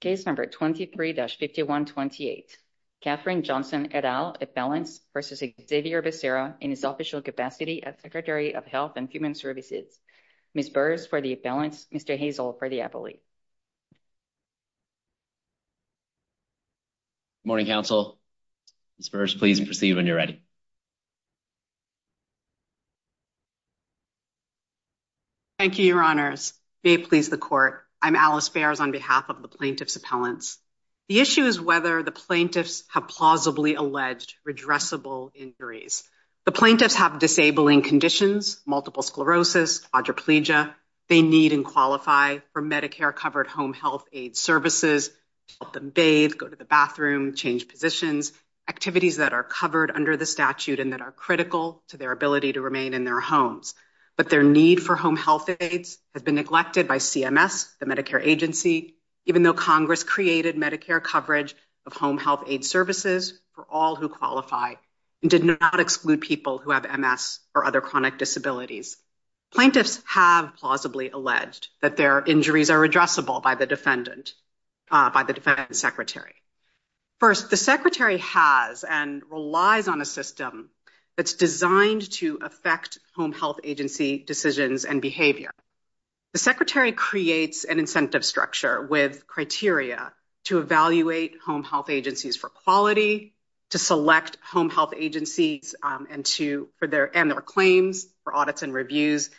Case number 23-5128. Katherine Johnson et al. appellants versus Xavier Becerra in his official capacity as Secretary of Health and Human Services. Ms. Burrs for the appellants, Mr. Hazel for the appellee. Good morning, Council. Ms. Burrs, please proceed when you're ready. Thank you, Your Honors. May it please the Court, I'm Alice Burrs on behalf of the plaintiffs' appellants. The issue is whether the plaintiffs have plausibly alleged redressable injuries. The plaintiffs have disabling conditions, multiple sclerosis, quadriplegia. They need and qualify for Medicare-covered home health aid services, help them bathe, go to the bathroom, change positions, activities that are covered under the statute and that are critical to their ability to remain in their homes. But their need for home health aids has been neglected by CMS, the Medicare agency, even though Congress created Medicare coverage of home health aid services for all who qualify and did not exclude people who have MS or other chronic disabilities. Plaintiffs have plausibly alleged that their injuries are redressable by the defendant, by the secretary. First, the secretary has and relies on a system that's designed to affect home health agency decisions and behavior. The secretary creates an incentive structure with criteria to evaluate home health agencies for quality, to select home health agencies and their claims for audits and reviews.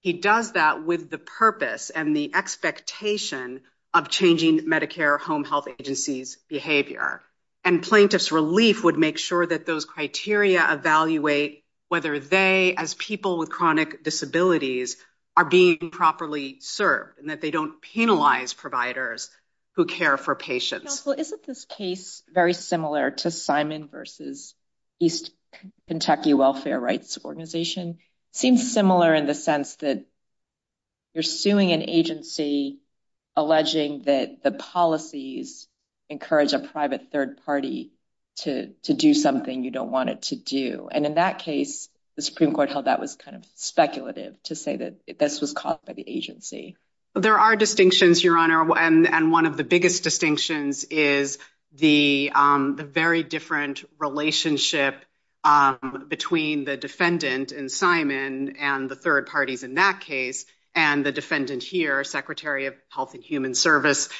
He does that with the purpose and the expectation of changing Medicare home health agency's behavior. And plaintiffs' relief would make sure that those criteria evaluate whether they, as people with chronic disabilities, are being properly served and that they don't penalize providers who care for patients. Counsel, isn't this case very similar to Simon v. East Kentucky Welfare Rights Organization? It seems similar in the sense that you're suing an agency and the policies encourage a private third party to do something you don't want it to do. And in that case, the Supreme Court held that was kind of speculative to say that this was caused by the agency. There are distinctions, Your Honor, and one of the biggest distinctions is the very different relationship between the defendant in Simon and the third parties in that case and the defendant here, Secretary of Health and Human Services,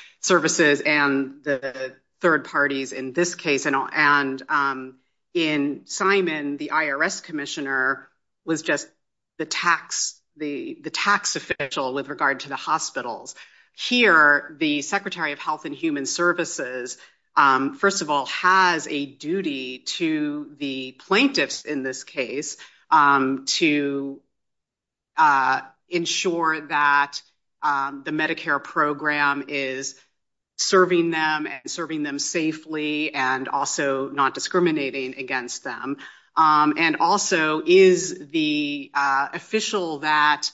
and the third parties in this case. And in Simon, the IRS commissioner was just the tax official with regard to the hospitals. Here, the Secretary of Health and Human Services, first of all, has a duty to the plaintiffs in this case to ensure that the Medicare program is serving them and serving them safely and also not discriminating against them, and also is the official that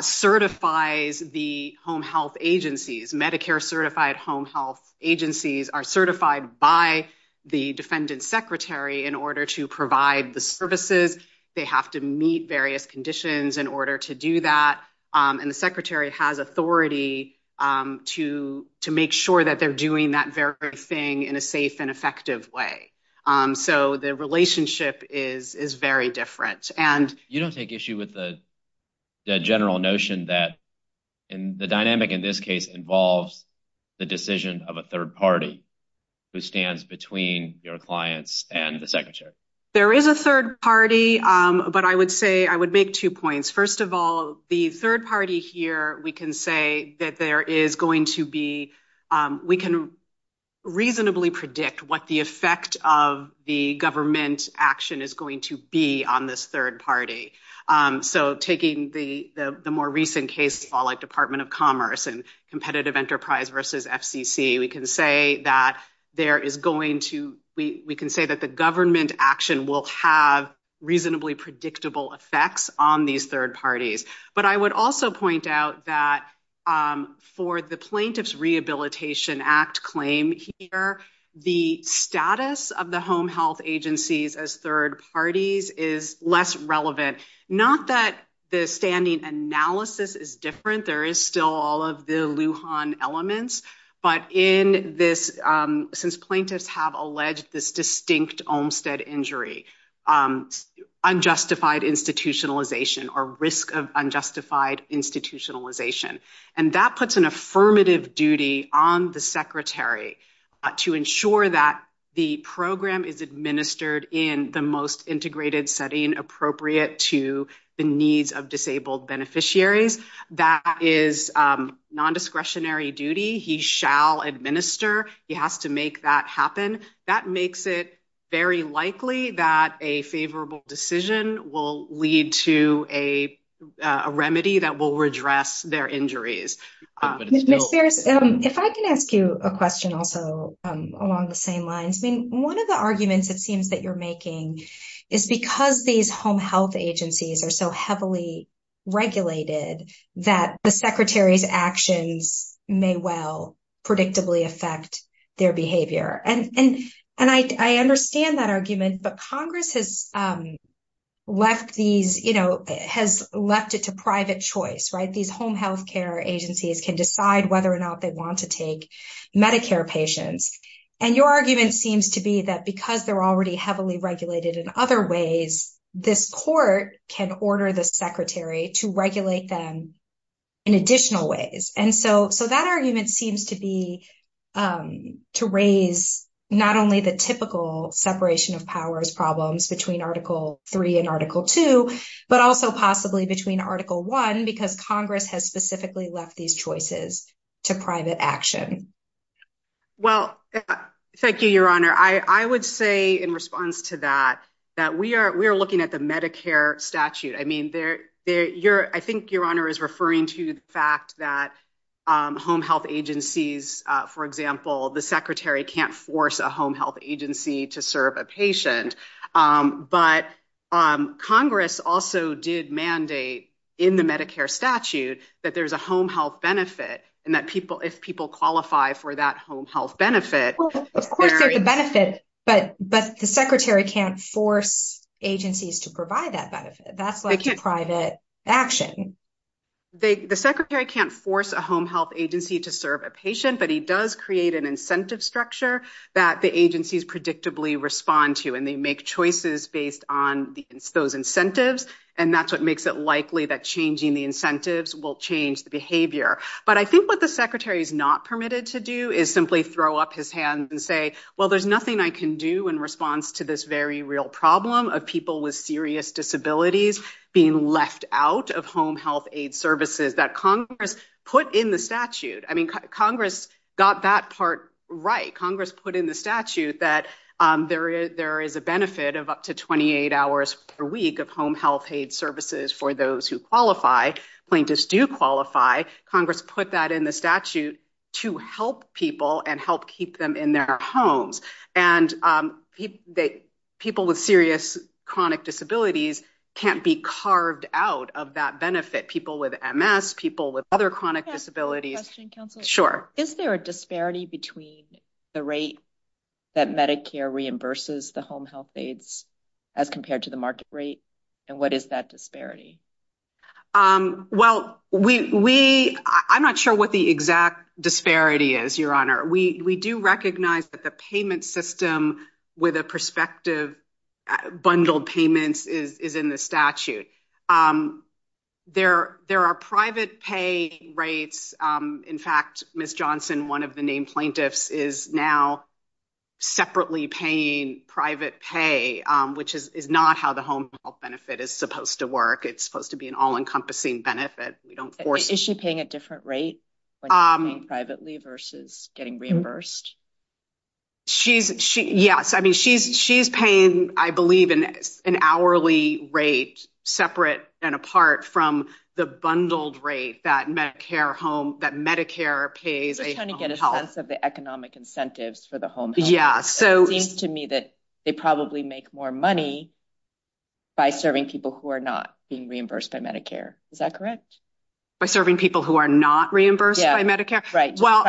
certifies the home health agencies. Medicare certified home health agencies are certified by the defendant's secretary in order to provide the services. They have to meet various conditions in order to do that, and the secretary has authority to make sure that they're doing that very thing in a safe and effective way. So the relationship is very different. You don't take issue with the general notion that the dynamic in this case involves the decision of a third party who stands between your clients and the secretary. There is a third party, but I would say I would make two points. First of all, the third party here, we can say that there is going to be, we can reasonably predict what the effect of the government action is going to be on this third party. So taking the more recent case, like Department of Aheaditive Enterprise versus FCC, we can say that there is going to, we can say that the government action will have reasonably predictable effects on these third parties. But I would also point out that for the Plaintiffs Rehabilitation Act claim here, the status of the home health agencies as third parties is less relevant. Not that the standing analysis is different, there is still all of the Lujan elements, but in this, since plaintiffs have alleged this distinct Olmstead injury, unjustified institutionalization or risk of unjustified institutionalization, and that puts an affirmative duty on the secretary to ensure that the program is administered in the most integrated setting appropriate to the needs of disabled beneficiaries, that is non-discretionary duty, he shall administer, he has to make that happen. That makes it very likely that a favorable decision will lead to a remedy that will redress their injuries. If I can ask you a question also, along the same lines, I mean, one of the things that I'm interested in hearing from you is the argument that these home health agencies are so heavily regulated that the secretary's actions may well predictably affect their behavior. And I understand that argument, but Congress has left these, you know, has left it to private choice, right? These home health care agencies can decide whether or not they want to take Medicare patients. And your argument seems to be that because they're already heavily regulated in other ways, this court can order the secretary to regulate them in additional ways. And so that argument seems to be, to raise not only the typical separation of powers problems between Article 3 and Article 2, but also possibly between Article 1, because Congress has specifically left these choices to private action. Well, thank you, Your Honor. I would say in response to that, that we are we're looking at the Medicare statute. I mean, there you're I think your honor is referring to the fact that home health agencies, for example, the secretary can't force a home health agency to serve a patient. But Congress also did mandate in the Medicare statute that there's a home health benefit and that people if people qualify for that home health benefit. Of course, there's a benefit, but the secretary can't force agencies to provide that benefit. That's like private action. The secretary can't force a home health agency to serve a patient, but he does create an incentive structure that the agencies predictably respond to. And they make choices based on those incentives. And that's what makes it likely that changing the incentives will change the behavior. But I think what the secretary is not permitted to do is simply throw up his hands and say, well, there's nothing I can do in response to this very real problem of people with serious disabilities being left out of home health aid services that Congress put in the statute. I mean, Congress got that part right. Congress put in the statute that there is a benefit of up to 28 hours per week of home health aid services for those who qualify. Plaintiffs do qualify. Congress put that in the statute to help people and help keep them in their homes. And people with serious chronic disabilities can't be carved out of that benefit. People with MS, people with other chronic disabilities. Sure. Is there a disparity between the rate that Medicare reimburses the home health aides as compared to the market rate? And what is that disparity? Um, well, we I'm not sure what the exact disparity is. Your honor. We do recognize that the payment system with a perspective bundled payments is in the statute. Um, there there are private pay rates. Um, in fact, Miss Johnson, one of the name plaintiffs, is now separately paying private pay, which is not how the home health benefit is supposed to work. It's supposed to be an all encompassing benefit. We don't force. Is she paying a different rate? Um, privately versus getting reimbursed? She's she. Yes, I mean, she's she's paying, I believe, in an hourly rate separate and apart from the bundled rate that Medicare home that Medicare pays trying to get a sense of the economic incentives for the home. Yeah. So it seems to me that they probably make more money by serving people who are not being reimbursed by Medicare. Is that correct? By serving people who are not reimbursed by Medicare, right? Well,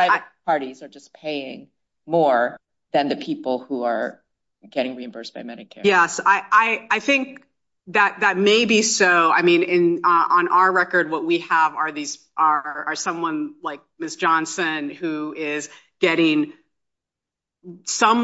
parties are just paying more than the people who are getting reimbursed by Medicare. Yes, I think that that may be so. I mean, on our record, what we have are these are someone like Miss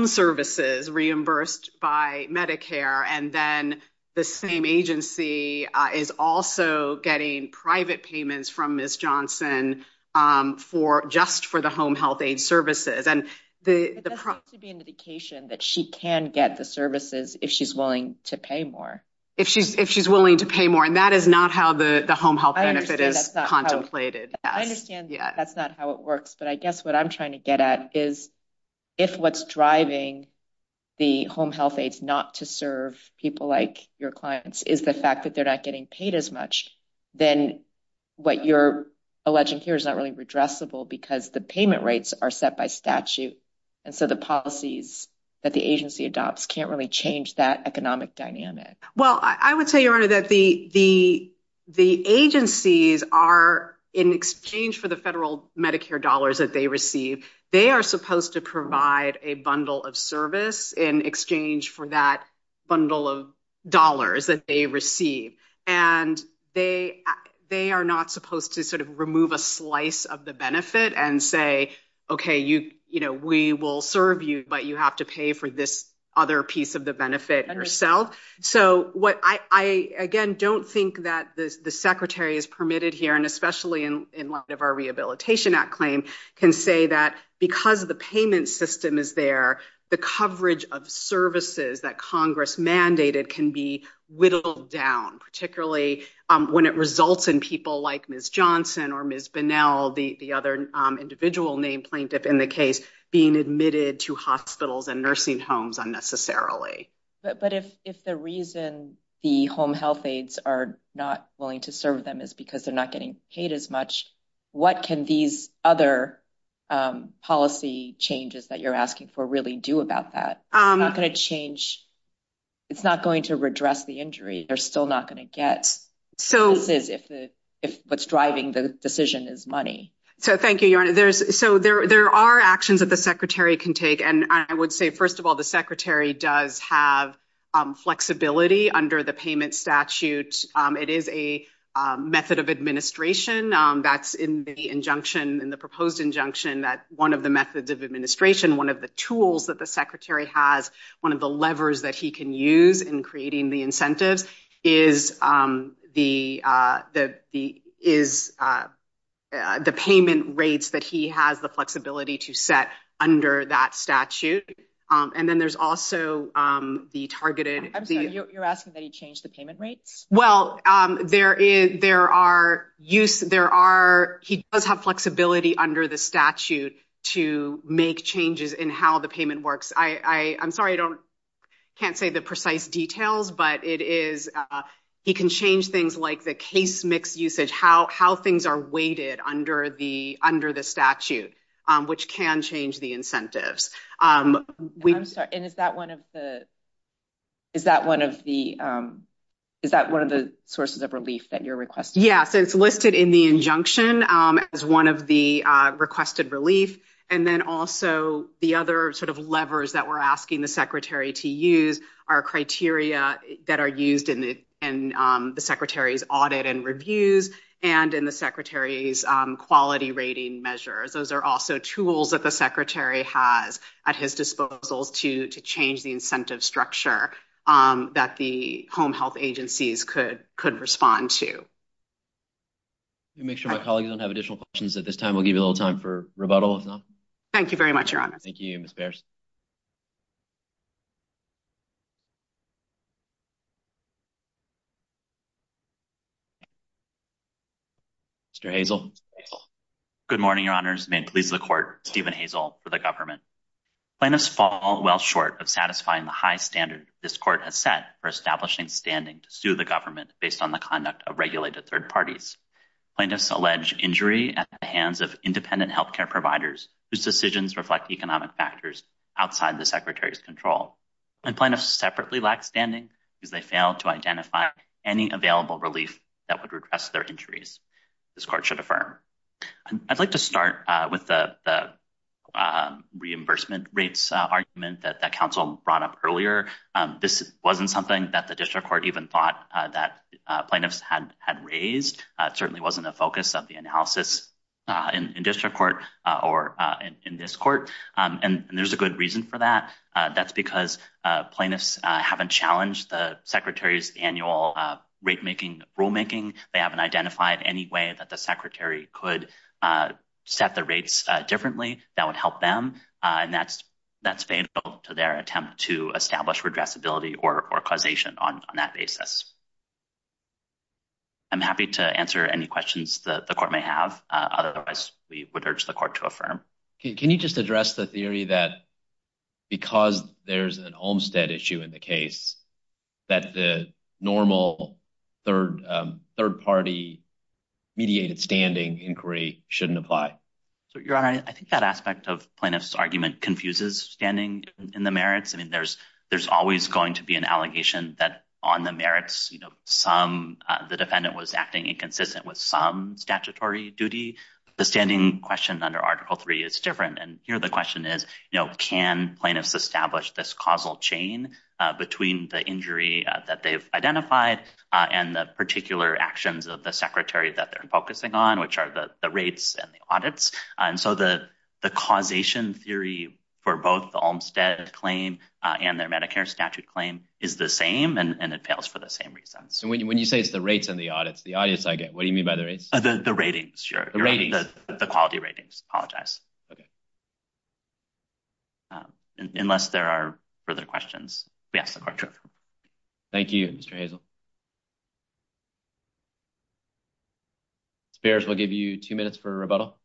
services reimbursed by Medicare, and then the same agency is also getting private payments from Miss Johnson, um, for just for the home health aid services and the to be an indication that she can get the services if she's willing to pay more if she's if she's willing to pay more. And that is not how the home health benefit is contemplated. I understand that's not how it works. But I guess what I'm trying to get at is if what's driving the home health aides not to serve people like your clients is the fact that they're not getting paid as much, then what you're alleging here is not really redressable because the payment rates are set by statute. And so the policies that the agency adopts can't really change that economic dynamic. Well, I would say, Your Honor, that the agencies are in exchange for the federal Medicare dollars that they receive. They are supposed to provide a bundle of service in exchange for that bundle of dollars that they receive. And they they are not supposed to sort of remove a slice of the benefit and say, Okay, you know, we will serve you, but you have to pay for this other piece of the benefit herself. So what I again don't think that the secretary is rehabilitation act claim can say that because the payment system is there, the coverage of services that Congress mandated can be whittled down, particularly when it results in people like Ms. Johnson or Ms. Bonnell, the other individual named plaintiff in the case being admitted to hospitals and nursing homes unnecessarily. But if the reason the home health aides are not getting paid as much, what can these other policy changes that you're asking for really do about that? It's not going to change. It's not going to redress the injury. They're still not going to get services if what's driving the decision is money. So thank you, Your Honor. So there are actions that the secretary can take. And I would say, first of all, the secretary does have flexibility under the payment statute. It is a method of administration that's in the injunction in the proposed injunction that one of the methods of administration, one of the tools that the secretary has, one of the levers that he can use in creating the incentives is, um, the is, uh, the payment rates that he has the flexibility to set under that statute. And then there's also the targeted. You're asking that he changed the payment rates. Well, there is. There are use. There are. He does have flexibility under the statute to make changes in how the payment works. I'm sorry. I don't can't say the precise details, but it is. Uh, he can change things like the case mix usage, how how things are weighted under the under the which can change the incentives. Um, I'm sorry. And is that one of the is that one of the, um, is that one of the sources of relief that you're requesting? Yes, it's listed in the injunction as one of the requested relief. And then also the other sort of levers that we're asking the secretary to use our criteria that are used in the and the secretary's audit and reviews and in the secretary's quality rating measures. Those air also tools that the secretary has at his disposals to to change the incentive structure, um, that the home health agencies could could respond to. You make sure my colleagues don't have additional questions at this time. We'll give you a little time for rebuttal. Thank you very much. You're honest. Thank you, Miss Bears. Mr Hazel. Good morning, your honors. May please the court. Stephen Hazel for the government. Plaintiffs fall well short of satisfying the high standard this court has set for establishing standing to sue the government based on the conduct of regulated third parties. Plaintiffs allege injury at the hands of independent health care providers whose decisions reflect economic factors outside the secretary's control. And plaintiffs separately lack standing because they failed to identify any available relief that would redress their injuries. This court should affirm. I'd like to start with the reimbursement rates argument that the council brought up earlier. This wasn't something that the district court even thought that plaintiffs had had raised. It certainly wasn't a focus of the analysis in district court or in this court. And there's a good reason for that. That's because plaintiffs haven't challenged the secretary's annual rate making rulemaking. They haven't identified any way that the secretary could set the rates differently that would help them. And that's that's fatal to their attempt to establish redress ability or causation on that basis. I'm happy to answer any questions the court may have. Otherwise, we would urge the court to affirm. Can you just address the theory that because there's an Olmstead issue in the case that the normal third third party mediated standing inquiry shouldn't apply? So your honor, I think that aspect of plaintiffs argument confuses standing in the merits. I mean, there's there's always going to be an allegation that on the merits, you know, some the defendant was acting inconsistent with some statutory duty. The standing question under Article three is different. And here the question is, you know, can plaintiffs establish this causal chain between the injury that they've identified and the particular actions of the secretary that they're focusing on, which are the rates and the audits. And so the the causation theory for both the Olmstead claim and their Medicare statute claim is the same, and it fails for the same reason. So when you when you say it's the rates and the audits, the audience, I get what do you mean by the rates? The quality ratings? Apologize. Okay. Unless there are further questions. Yes. Thank you, Mr Hazel. Bears will give you two minutes for rebuttal.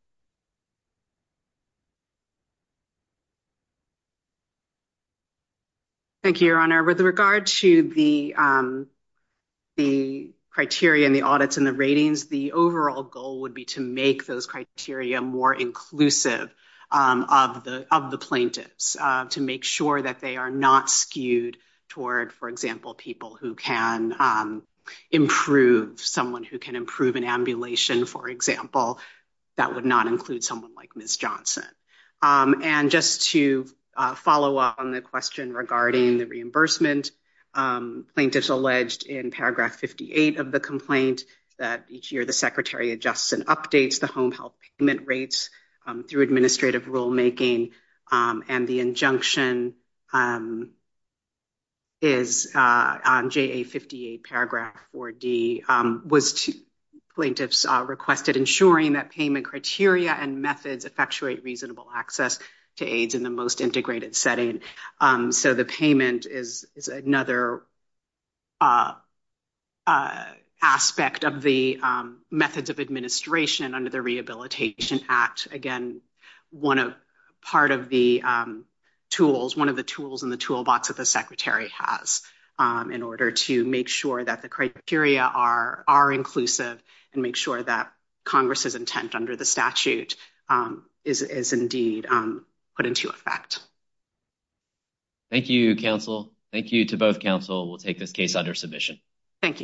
Thank you, Your Honor. With regard to the, um, the criteria in the audits and the ratings, the overall goal would be to make those criteria more inclusive of the of the plaintiffs to make sure that they are not skewed toward, for example, people who can, um, improve someone who can improve an ambulation, for example, that would not include someone like Miss Johnson. Um, and just to follow up on the question regarding the reimbursement, um, plaintiffs alleged in paragraph 58 of the complaint that each year the secretary adjusts and updates the home health payment rates through administrative rulemaking. Um, and the injunction, um, is, uh, on J. A. 58 paragraph for D. Um, was to plaintiffs requested ensuring that payment criteria and methods effectuate reasonable access to AIDS in the most integrated setting. Um, so the payment is another uh, uh, aspect of the methods of administration under the Rehabilitation Act. Again, one of part of the, um, tools, one of the tools in the toolbox that the secretary has, um, in order to make sure that the criteria are are inclusive and make sure that Congress's intent under the statute, um, is is indeed, um, put into effect. Thank you, Counsel. Thank you to both. Counsel will take this case under submission. Thank you.